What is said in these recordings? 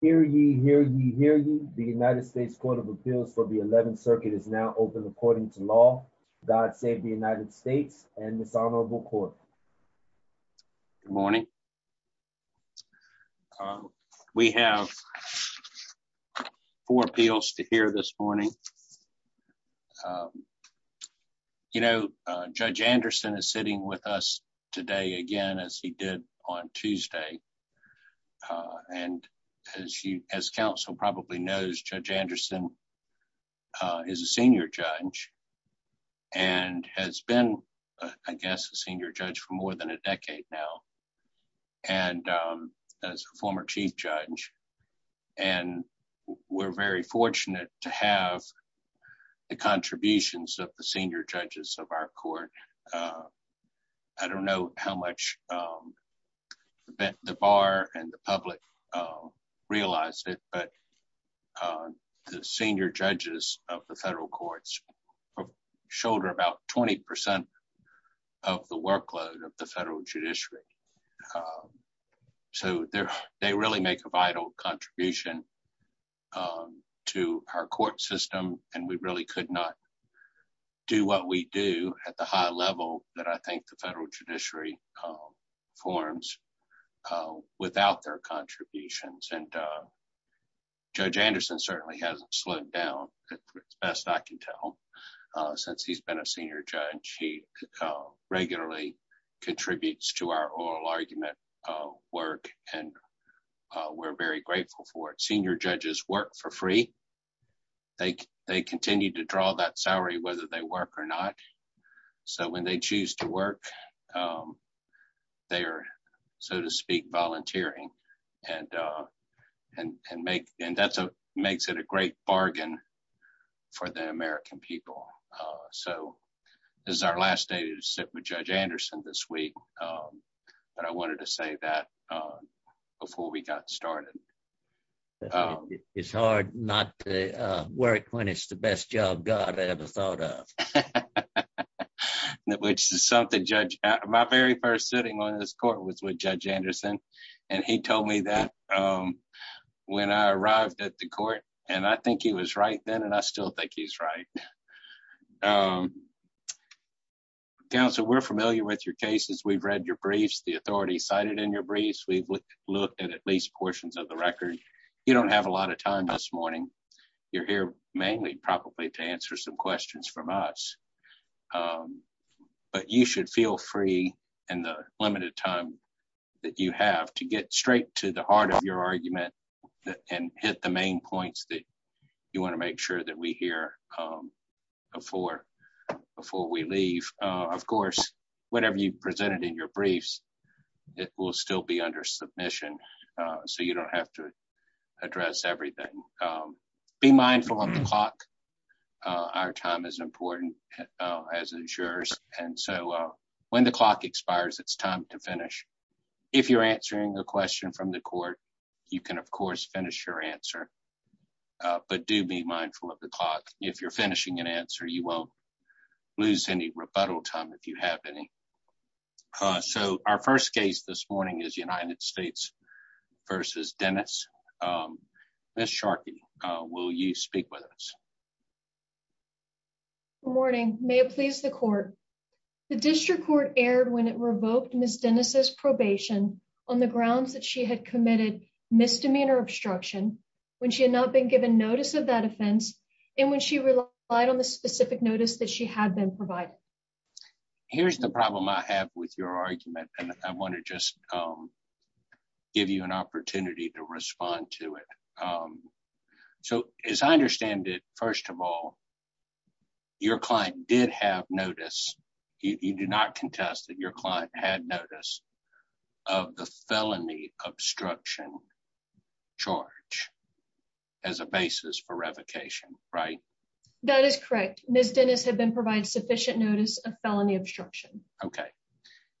Hear ye, hear ye, hear ye. The United States Court of Appeals for the 11th Circuit is now open according to law. God save the United States and dishonorable court. Good morning. We have four appeals to hear this morning. You know, Judge Anderson is sitting with us today again, as he did on Tuesday. Uh, and as you, as counsel probably knows, Judge Anderson, uh, is a senior judge and has been, I guess, a senior judge for more than a decade now. And, um, as a former chief judge, and we're very fortunate to have the contributions of the senior judges of our court. Uh, I don't know how much, um, the bar and the public, uh, realized it, but, uh, the senior judges of the federal courts shoulder about 20% of the workload of the federal judiciary. Um, so they're, they really make a vital contribution, um, to our court system, and we really could not do what we do at the high level that I think the federal judiciary, um, forms, uh, without their contributions. And, uh, Judge Anderson certainly hasn't slowed down at best. I can tell, uh, since he's been a senior judge, he, uh, regularly contributes to our oral argument, uh, work and, uh, we're very grateful for it. Senior judges work for free. They, they continue to draw that salary, whether they work or not. So when they choose to work, um, they are, so to speak, volunteering and, uh, and, and make, and that's a, makes it a great bargain for the American people. Uh, so this is our last day to sit with Judge Anderson this week. Um, but I wanted to say that, uh, before we got started. Oh, it's hard not to, uh, work when it's the best job God ever thought of. That, which is something judge, my very first sitting on this court was with Judge Anderson and he told me that, um, when I arrived at the court and I think he was right then, and I still think he's right, um, counsel, we're familiar with your cases, we've read your briefs, the authority cited in your briefs. Look at at least portions of the record. You don't have a lot of time this morning. You're here mainly probably to answer some questions from us. Um, but you should feel free and the limited time that you have to get straight to the heart of your argument and hit the main points that you want to make sure that we hear, um, before, before we leave, uh, of course, whatever you presented in your briefs, it will still be under submission. Uh, so you don't have to address everything. Um, be mindful of the clock. Uh, our time is important, uh, as insurers. And so, uh, when the clock expires, it's time to finish. If you're answering a question from the court, you can, of course, finish your answer. Uh, but do be mindful of the clock. If you're finishing an answer, you won't lose any rebuttal time. If you have any, uh, so our first case this morning is United States versus Dennis. Um, Ms. Sharkey, uh, will you speak with us? Good morning. May it please the court. The district court aired when it revoked Ms. Dennis's probation on the grounds that she had committed misdemeanor obstruction when she had not been given notice of that offense and when she relied on the specific notice that she had been provided. Here's the problem I have with your argument. And I want to just, um, give you an opportunity to respond to it. Um, so as I understand it, first of all, your client did have notice. You do not contest that your client had notice of the felony obstruction charge as a basis for revocation, right? That is correct. Ms. Dennis had been provided sufficient notice of felony obstruction. Okay.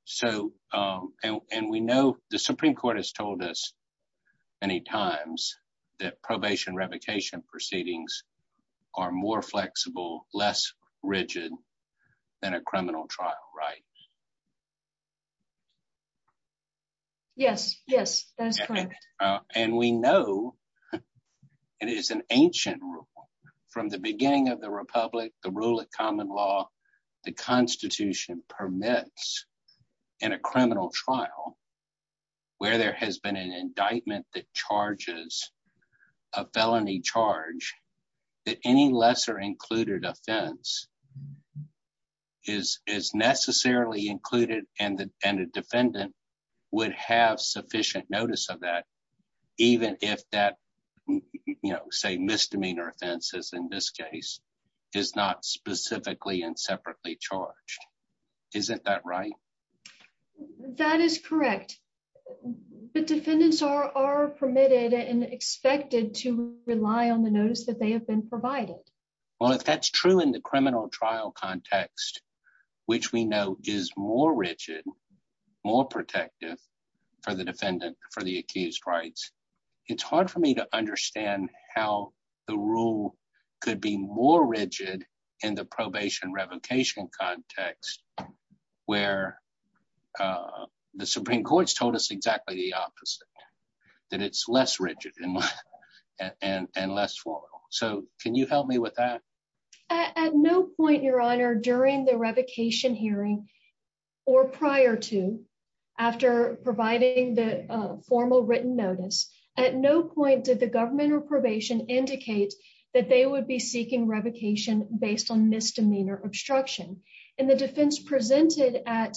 So, um, and, and we know the Supreme court has told us many times that probation revocation proceedings are more flexible, less rigid than a criminal trial, right? Yes. Yes, that is correct. And we know it is an ancient rule from the beginning of the Republic, the rule of common law. The constitution permits in a criminal trial where there has been an indictment that charges a felony charge that any lesser included offense is, is necessarily included and the defendant would have sufficient notice of that. Even if that, you know, say misdemeanor offenses in this case is not specifically and separately charged. Isn't that right? That is correct. But defendants are, are permitted and expected to rely on the notice that they have been provided. Well, if that's true in the criminal trial context, which we know is more rigid, more protective for the defendant, for the accused rights, it's hard for me to understand how the rule could be more rigid in the probation revocation context where, uh, the Supreme court's told us exactly the opposite, that it's less rigid and less formal. So can you help me with that? At no point, your honor, during the revocation hearing or prior to, after providing the formal written notice, at no point did the government or probation indicate that they would be seeking revocation based on misdemeanor obstruction and the defense presented at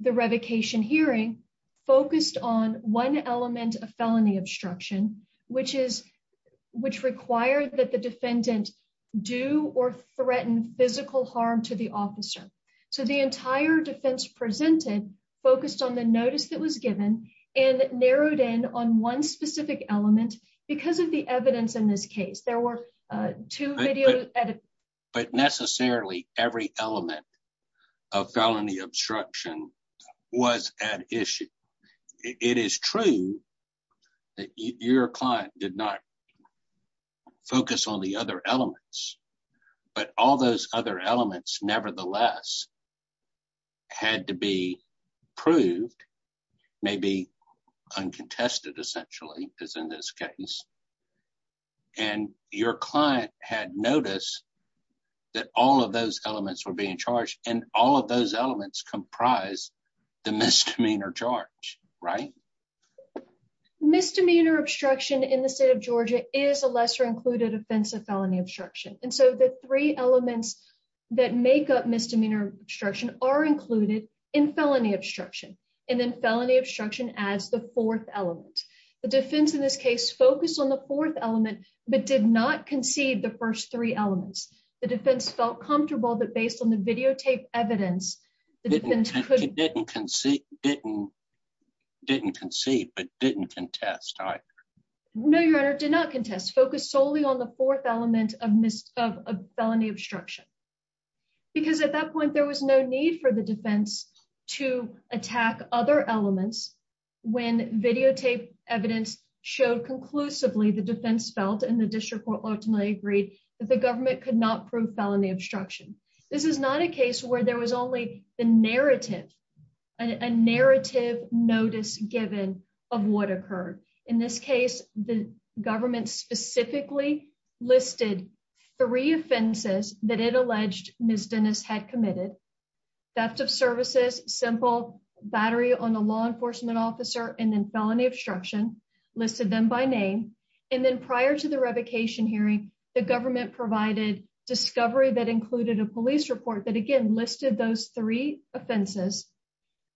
the revocation hearing focused on one defendant do or threaten physical harm to the officer. So the entire defense presented focused on the notice that was given and narrowed in on one specific element because of the evidence in this case, there were two. But necessarily every element of felony obstruction was at issue. It is true that your client did not focus on the other elements, but all those other elements nevertheless had to be proved, maybe uncontested essentially is in this case, and your client had noticed that all of those elements were being charged and all of those elements comprise the misdemeanor charge, right? Misdemeanor obstruction in the state of Georgia is a lesser included offensive felony obstruction. And so the three elements that make up misdemeanor obstruction are included in felony obstruction. And then felony obstruction as the fourth element, the defense in this case focused on the fourth element, but did not concede the first three elements. The defense felt comfortable that based on the videotape evidence, the defense didn't concede, didn't, didn't concede, but didn't contest. No, your honor did not contest focus solely on the fourth element of mis of felony obstruction. Because at that point, there was no need for the defense to attack other elements when videotape evidence showed conclusively the defense felt and the district court ultimately agreed that the government could not prove felony obstruction. This is not a case where there was only the narrative, a narrative notice given of what occurred. In this case, the government specifically listed three offenses that it alleged Ms. Dennis had committed theft of services, simple battery on a law enforcement officer, and then felony obstruction listed them by name. And then prior to the revocation hearing, the government provided discovery that included a police report that again, listed those three offenses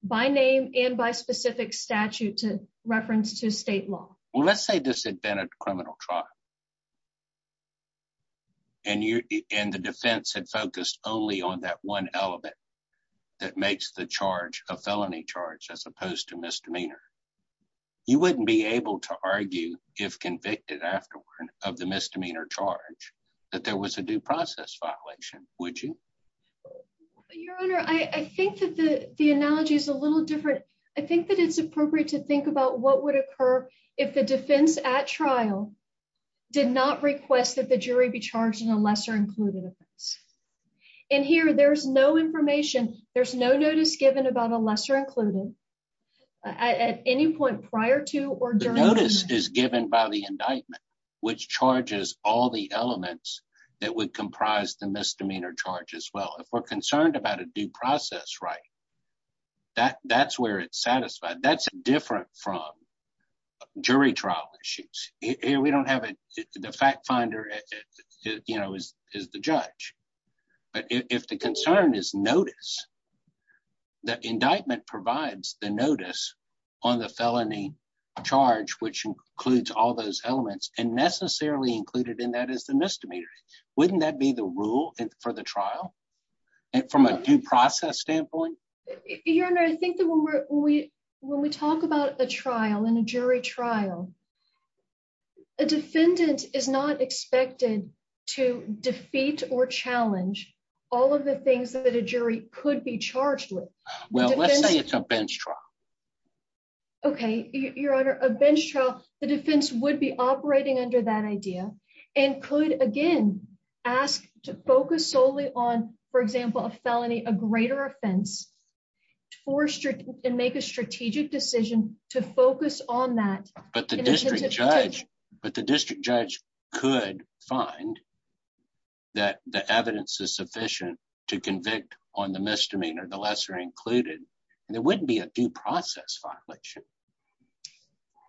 by name and by specific statute to reference to state law. Well, let's say this had been a criminal trial and you, and the defense had focused only on that one element that makes the charge a felony charge, as opposed to misdemeanor. You wouldn't be able to argue if convicted afterward of the misdemeanor charge, that there was a due process violation, would you? Your honor. I think that the, the analogy is a little different. I think that it's appropriate to think about what would occur if the defense at trial did not request that the jury be charged in a lesser included offense. And here there's no information. There's no notice given about a lesser included at any point prior to, or is given by the indictment, which charges all the elements that would comprise the misdemeanor charge as well. If we're concerned about a due process, right. That that's where it's satisfied. That's different from jury trial issues. Here we don't have it. The fact finder, you know, is, is the judge, but if the concern is notice that indictment provides the notice on the felony charge, which includes all those elements and necessarily included in that as the misdemeanor, wouldn't that be the rule for the trial? And from a due process standpoint, your honor, I think that when we're, when we, when we talk about a trial and a jury trial, a defendant is not expected to defeat or challenge all of the things that a jury could be charged with bench trial. Okay. Your honor, a bench trial, the defense would be operating under that idea and could again, ask to focus solely on, for example, a felony, a greater offense for and make a strategic decision to focus on that, but the district judge, but the to convict on the misdemeanor, the lesser included, and it wouldn't be a due process violation.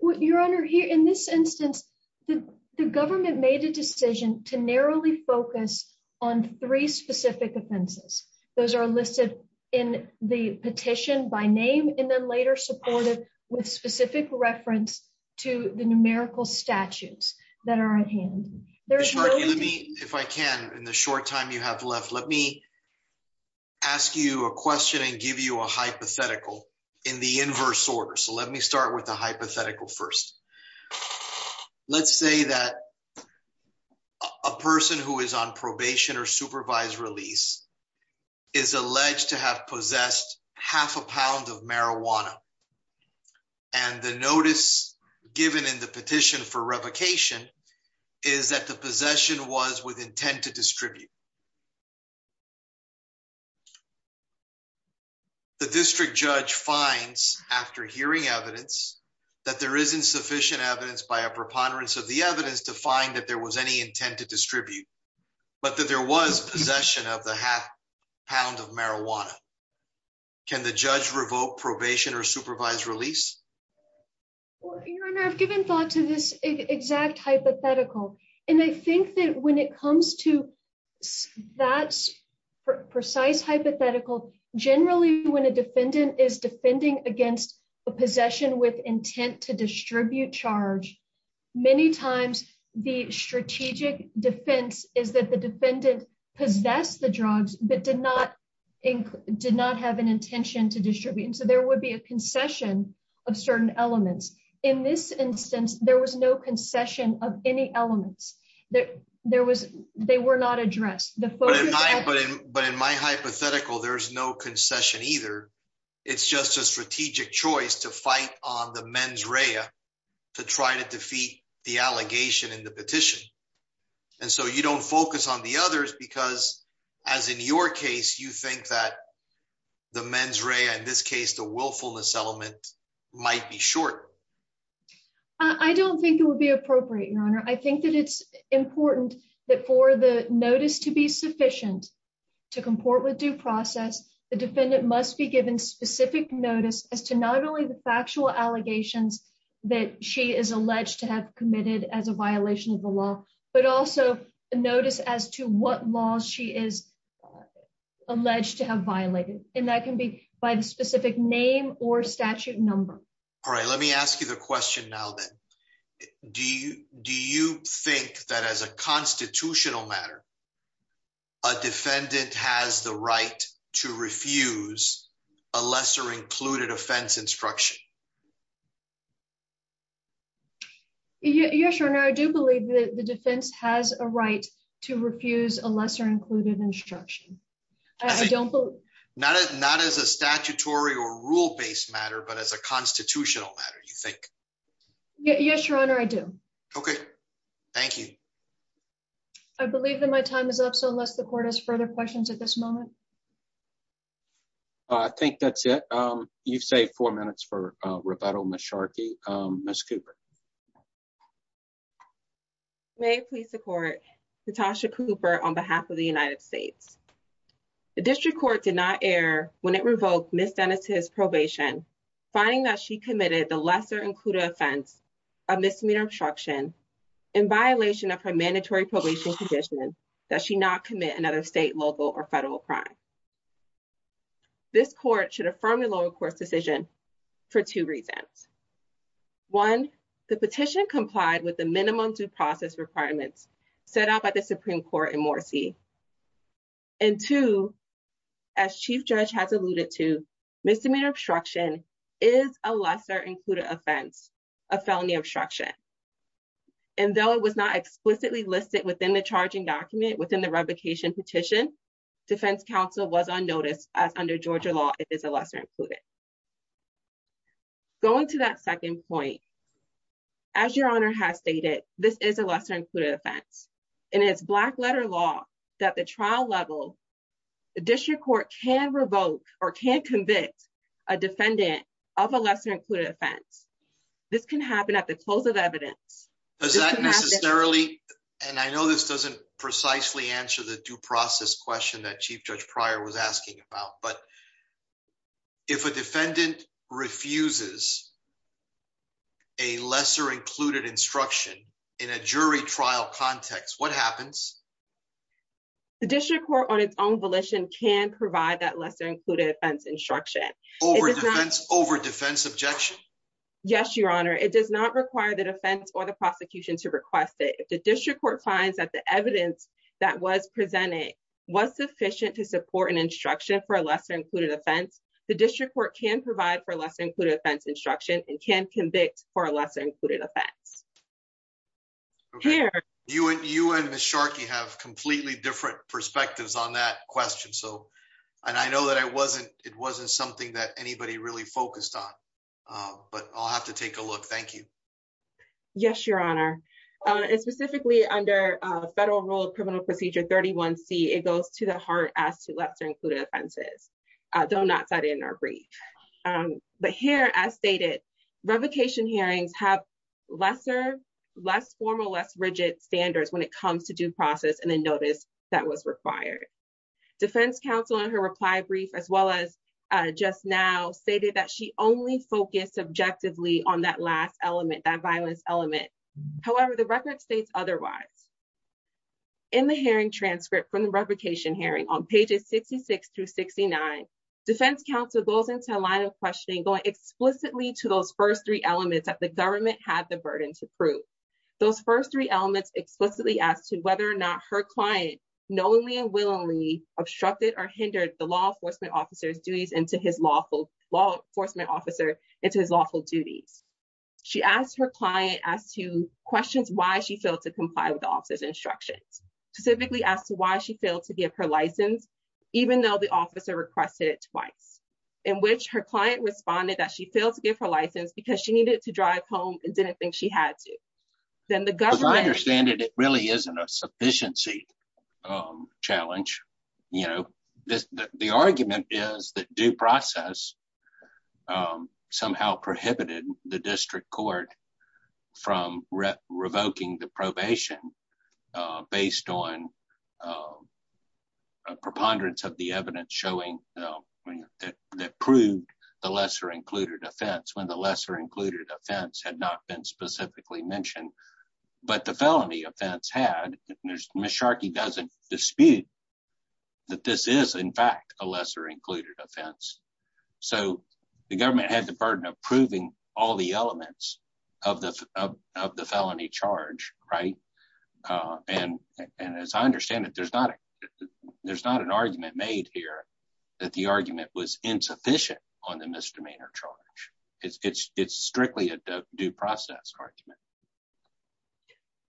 What you're under here in this instance, the government made a decision to narrowly focus on three specific offenses. Those are listed in the petition by name, and then later supported with specific reference to the numerical statutes that are at hand there. If I can, in the short time you have left, let me ask you a question and give you a hypothetical in the inverse order. So let me start with the hypothetical first. Let's say that a person who is on probation or supervised release is alleged to have possessed half a pound of marijuana and the notice given in the petition for revocation is that the possession was with intent to distribute. The district judge finds after hearing evidence that there isn't sufficient evidence by a preponderance of the evidence to find that there was any intent to distribute, but that there was possession of the half pound of marijuana. Can the judge revoke probation or supervised release? Your Honor, I've given thought to this exact hypothetical, and I think that when it comes to that precise hypothetical, generally, when a defendant is defending against a possession with intent to distribute charge, many times the strategic defense is that the defendant possessed the drugs but did not have an intention to distribute. So there would be a concession of certain elements. In this instance, there was no concession of any elements. They were not addressed. But in my hypothetical, there's no concession either. It's just a strategic choice to fight on the mens rea to try to defeat the allegation in the petition. So you don't focus on the others because, as in your case, you think that the mens rea, in this case, the willfulness element might be short. I don't think it would be appropriate, Your Honor. I think that it's important that for the notice to be sufficient to comport with due process, the defendant must be given specific notice as to not only the factual allegations that she is alleged to have committed as a violation of the law, but also notice as to what laws she is alleged to have violated. And that can be by the specific name or statute number. All right. Let me ask you the question now, then. Do you think that as a constitutional matter, a defendant has the right to refuse a lesser-included offense instruction? Yes, Your Honor. I do believe that the defense has a right to refuse a lesser-included instruction. Not as a statutory or rule-based matter, but as a constitutional matter, you think? Yes, Your Honor. I do. Okay. Thank you. I believe that my time is up. So unless the court has further questions at this moment. I think that's it. You've saved four minutes for rebuttal, Ms. Sharkey. Ms. Cooper. May it please the court. Natasha Cooper on behalf of the United States. The district court did not err when it revoked Ms. Dennis' probation, finding that she committed the lesser-included offense of misdemeanor obstruction in violation of her mandatory probation condition that she not commit another state, local, or federal crime. This court should affirm the lower court's decision for two reasons. One, the petition complied with the minimum due process requirements set out by the Supreme Court in Morsi. And two, as Chief Judge has alluded to, misdemeanor obstruction is a lesser-included offense, a felony obstruction. And though it was not explicitly listed within the charging document within the revocation petition, defense counsel was on notice as under Georgia law, it is a lesser-included. Going to that second point. As your honor has stated, this is a lesser-included offense and it's black letter law that the trial level, the district court can revoke or can't convict a defendant of a lesser-included offense. This can happen at the close of evidence. Does that necessarily, and I know this doesn't precisely answer the due process question that Chief Judge Pryor was asking about, but if a defendant refuses a lesser-included instruction in a jury trial context, what happens? The district court on its own volition can provide that lesser-included offense instruction. Over defense objection? Yes, your honor. It does not require the defense or the prosecution to request it. The district court finds that the evidence that was presented was sufficient to support an instruction for a lesser-included offense. The district court can provide for a lesser-included offense instruction and can convict for a lesser-included offense. You and Ms. Sharkey have completely different perspectives on that question. And I know that it wasn't something that anybody really focused on, but I'll have to take a look. Thank you. Yes, your honor. And specifically under federal rule of criminal procedure 31C, it goes to the heart as to lesser-included offenses, though not cited in our brief. But here, as stated, revocation hearings have lesser, less formal, less rigid standards when it comes to due process and the notice that was required. Defense counsel in her reply brief, as well as just now, stated that she only focused subjectively on that last element, that violence element. However, the record states otherwise. In the hearing transcript from the revocation hearing on pages 66 through 69, defense counsel goes into a line of questioning going explicitly to those first three elements that the government had the burden to prove. Those first three elements explicitly as to whether or not her client knowingly and willingly obstructed or hindered the law enforcement officer's duties and to his law law enforcement officer and to his lawful duties. She asked her client as to questions why she failed to comply with the officer's instructions, specifically asked why she failed to give her license, even though the officer requested it twice, in which her client responded that she failed to give her license because she needed to drive home and didn't think she had to. Then the government- As I understand it, it really isn't a sufficiency challenge. You know, the argument is that due process somehow prohibited the district court from revoking the probation based on a preponderance of the evidence showing that proved the lesser-included offense when the lesser-included offense had not been specifically mentioned. But the felony offense had, Ms. Sharkey doesn't dispute that this is, in fact, a lesser-included offense. So the government had the burden of proving all the elements of the felony charge, right? And as I understand it, there's not an argument made here that the argument was insufficient on the misdemeanor charge. It's strictly a due process argument.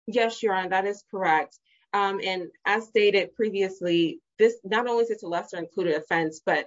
Yes, Your Honor, that is correct. And as stated previously, this not only is it a lesser-included offense, but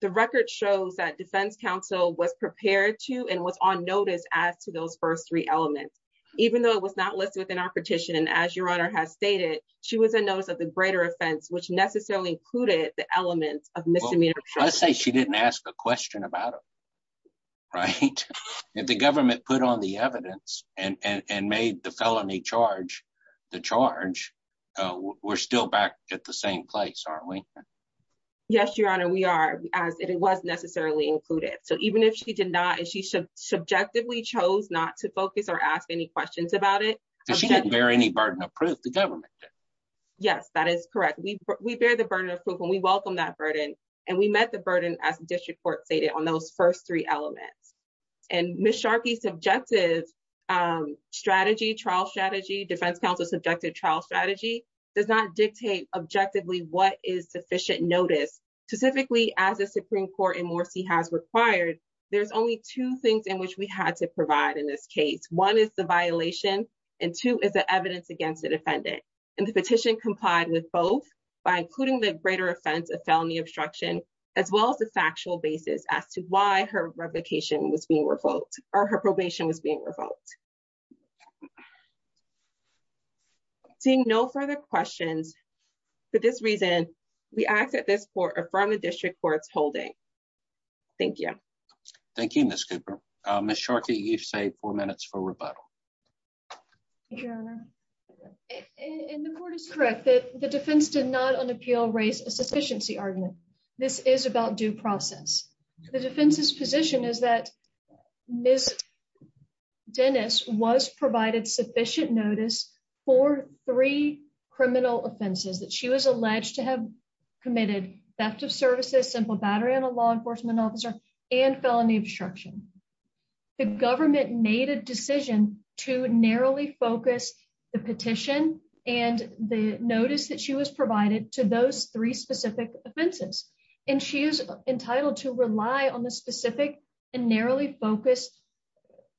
the record shows that defense counsel was prepared to and was on notice as to those first three elements, even though it was not listed within our petition. And as Your Honor has stated, she was a notice of the greater offense, which necessarily included the elements of misdemeanor charge. Let's say she didn't ask a question about it, right? If the government put on the evidence and made the felony charge the charge, we're still back at the same place, aren't we? Yes, Your Honor, we are, as it was necessarily included. So even if she did not, and she subjectively chose not to focus or ask any questions about it— Because she didn't bear any burden of proof, the government did. Yes, that is correct. We bear the burden of proof, and we welcome that burden. And we met the burden, as the district court stated, on those first three elements. And Ms. Sharkey's subjective strategy, trial strategy, defense counsel's subjective trial strategy does not dictate objectively what is sufficient notice. Specifically, as the Supreme Court in Morrissey has required, there's only two things in which we had to provide in this case. One is the violation, and two is the evidence against the defendant. And the petition complied with both by including the greater offense of felony obstruction as well as the factual basis as to why her revocation was being revoked, or her probation was being revoked. Seeing no further questions, for this reason, we ask that this court affirm the district court's holding. Thank you. Thank you, Ms. Cooper. Ms. Sharkey, you've saved four minutes for rebuttal. Thank you, Your Honor. And the court is correct that the defense did not, on appeal, raise a sufficiency argument. This is about due process. The defense's position is that Ms. Dennis was provided sufficient notice for three criminal offenses that she was alleged to have committed, theft of services, simple battery on a law enforcement officer, and felony obstruction. The government made a decision to narrowly focus the petition and the notice that she was provided to those three specific offenses. And she is entitled to rely on the specific and narrowly focused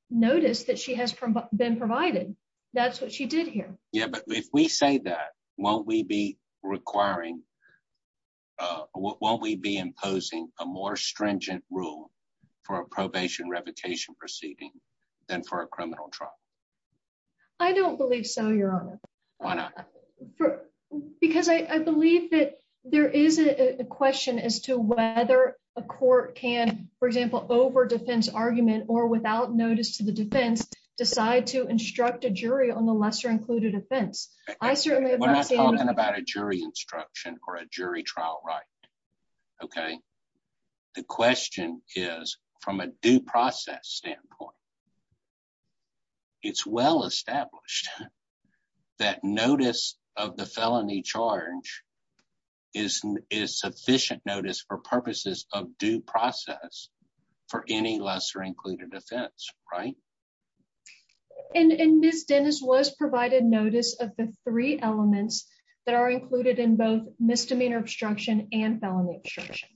notice that she has been provided. That's what she did here. Yeah, but if we say that, won't we be imposing a more stringent rule for a probation revocation proceeding than for a criminal trial? I don't believe so, Your Honor. Why not? Because I believe that there is a question as to whether a court can, for example, over defense argument or without notice to the defense, decide to instruct a jury on the lesser included offense. We're not talking about a jury instruction or a jury trial, right? Okay. The question is, from a due process standpoint, it's well established that notice of the felony charge is sufficient notice for purposes of due process for any lesser included offense, right? And Ms. Dennis was provided notice of the three elements that are included in both misdemeanor obstruction and felony obstruction.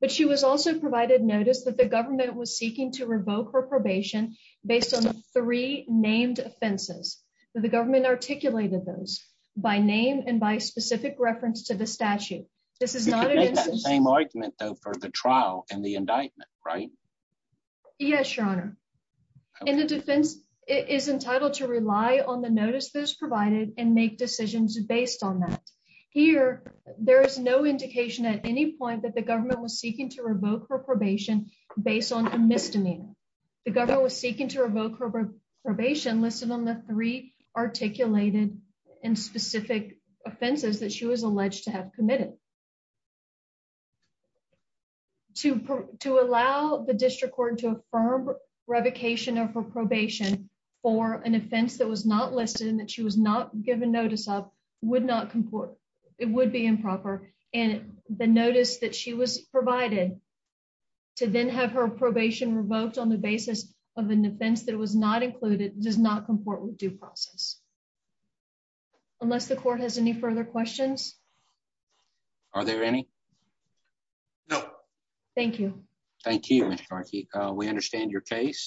But she was also provided notice that the government was seeking to revoke her probation based on three named offenses. The government articulated those by name and by specific reference to the statute. This is not the same argument, though, for the trial and the indictment, right? Yes, Your Honor. And the defense is entitled to rely on the notice that is provided and make decisions based on that. Here, there is no indication at any point that the government was seeking to revoke her probation based on a misdemeanor. The government was seeking to revoke her probation listed on the three articulated and specific offenses that she was alleged to have committed. To allow the district court to affirm revocation of her probation for an offense that was not listed and that she was not given notice of would not comport. It would be improper. And the notice that she was provided. To then have her probation revoked on the basis of an offense that was not included does not comport with due process. Unless the court has any further questions. Are there any? No, thank you. Thank you. We understand your case.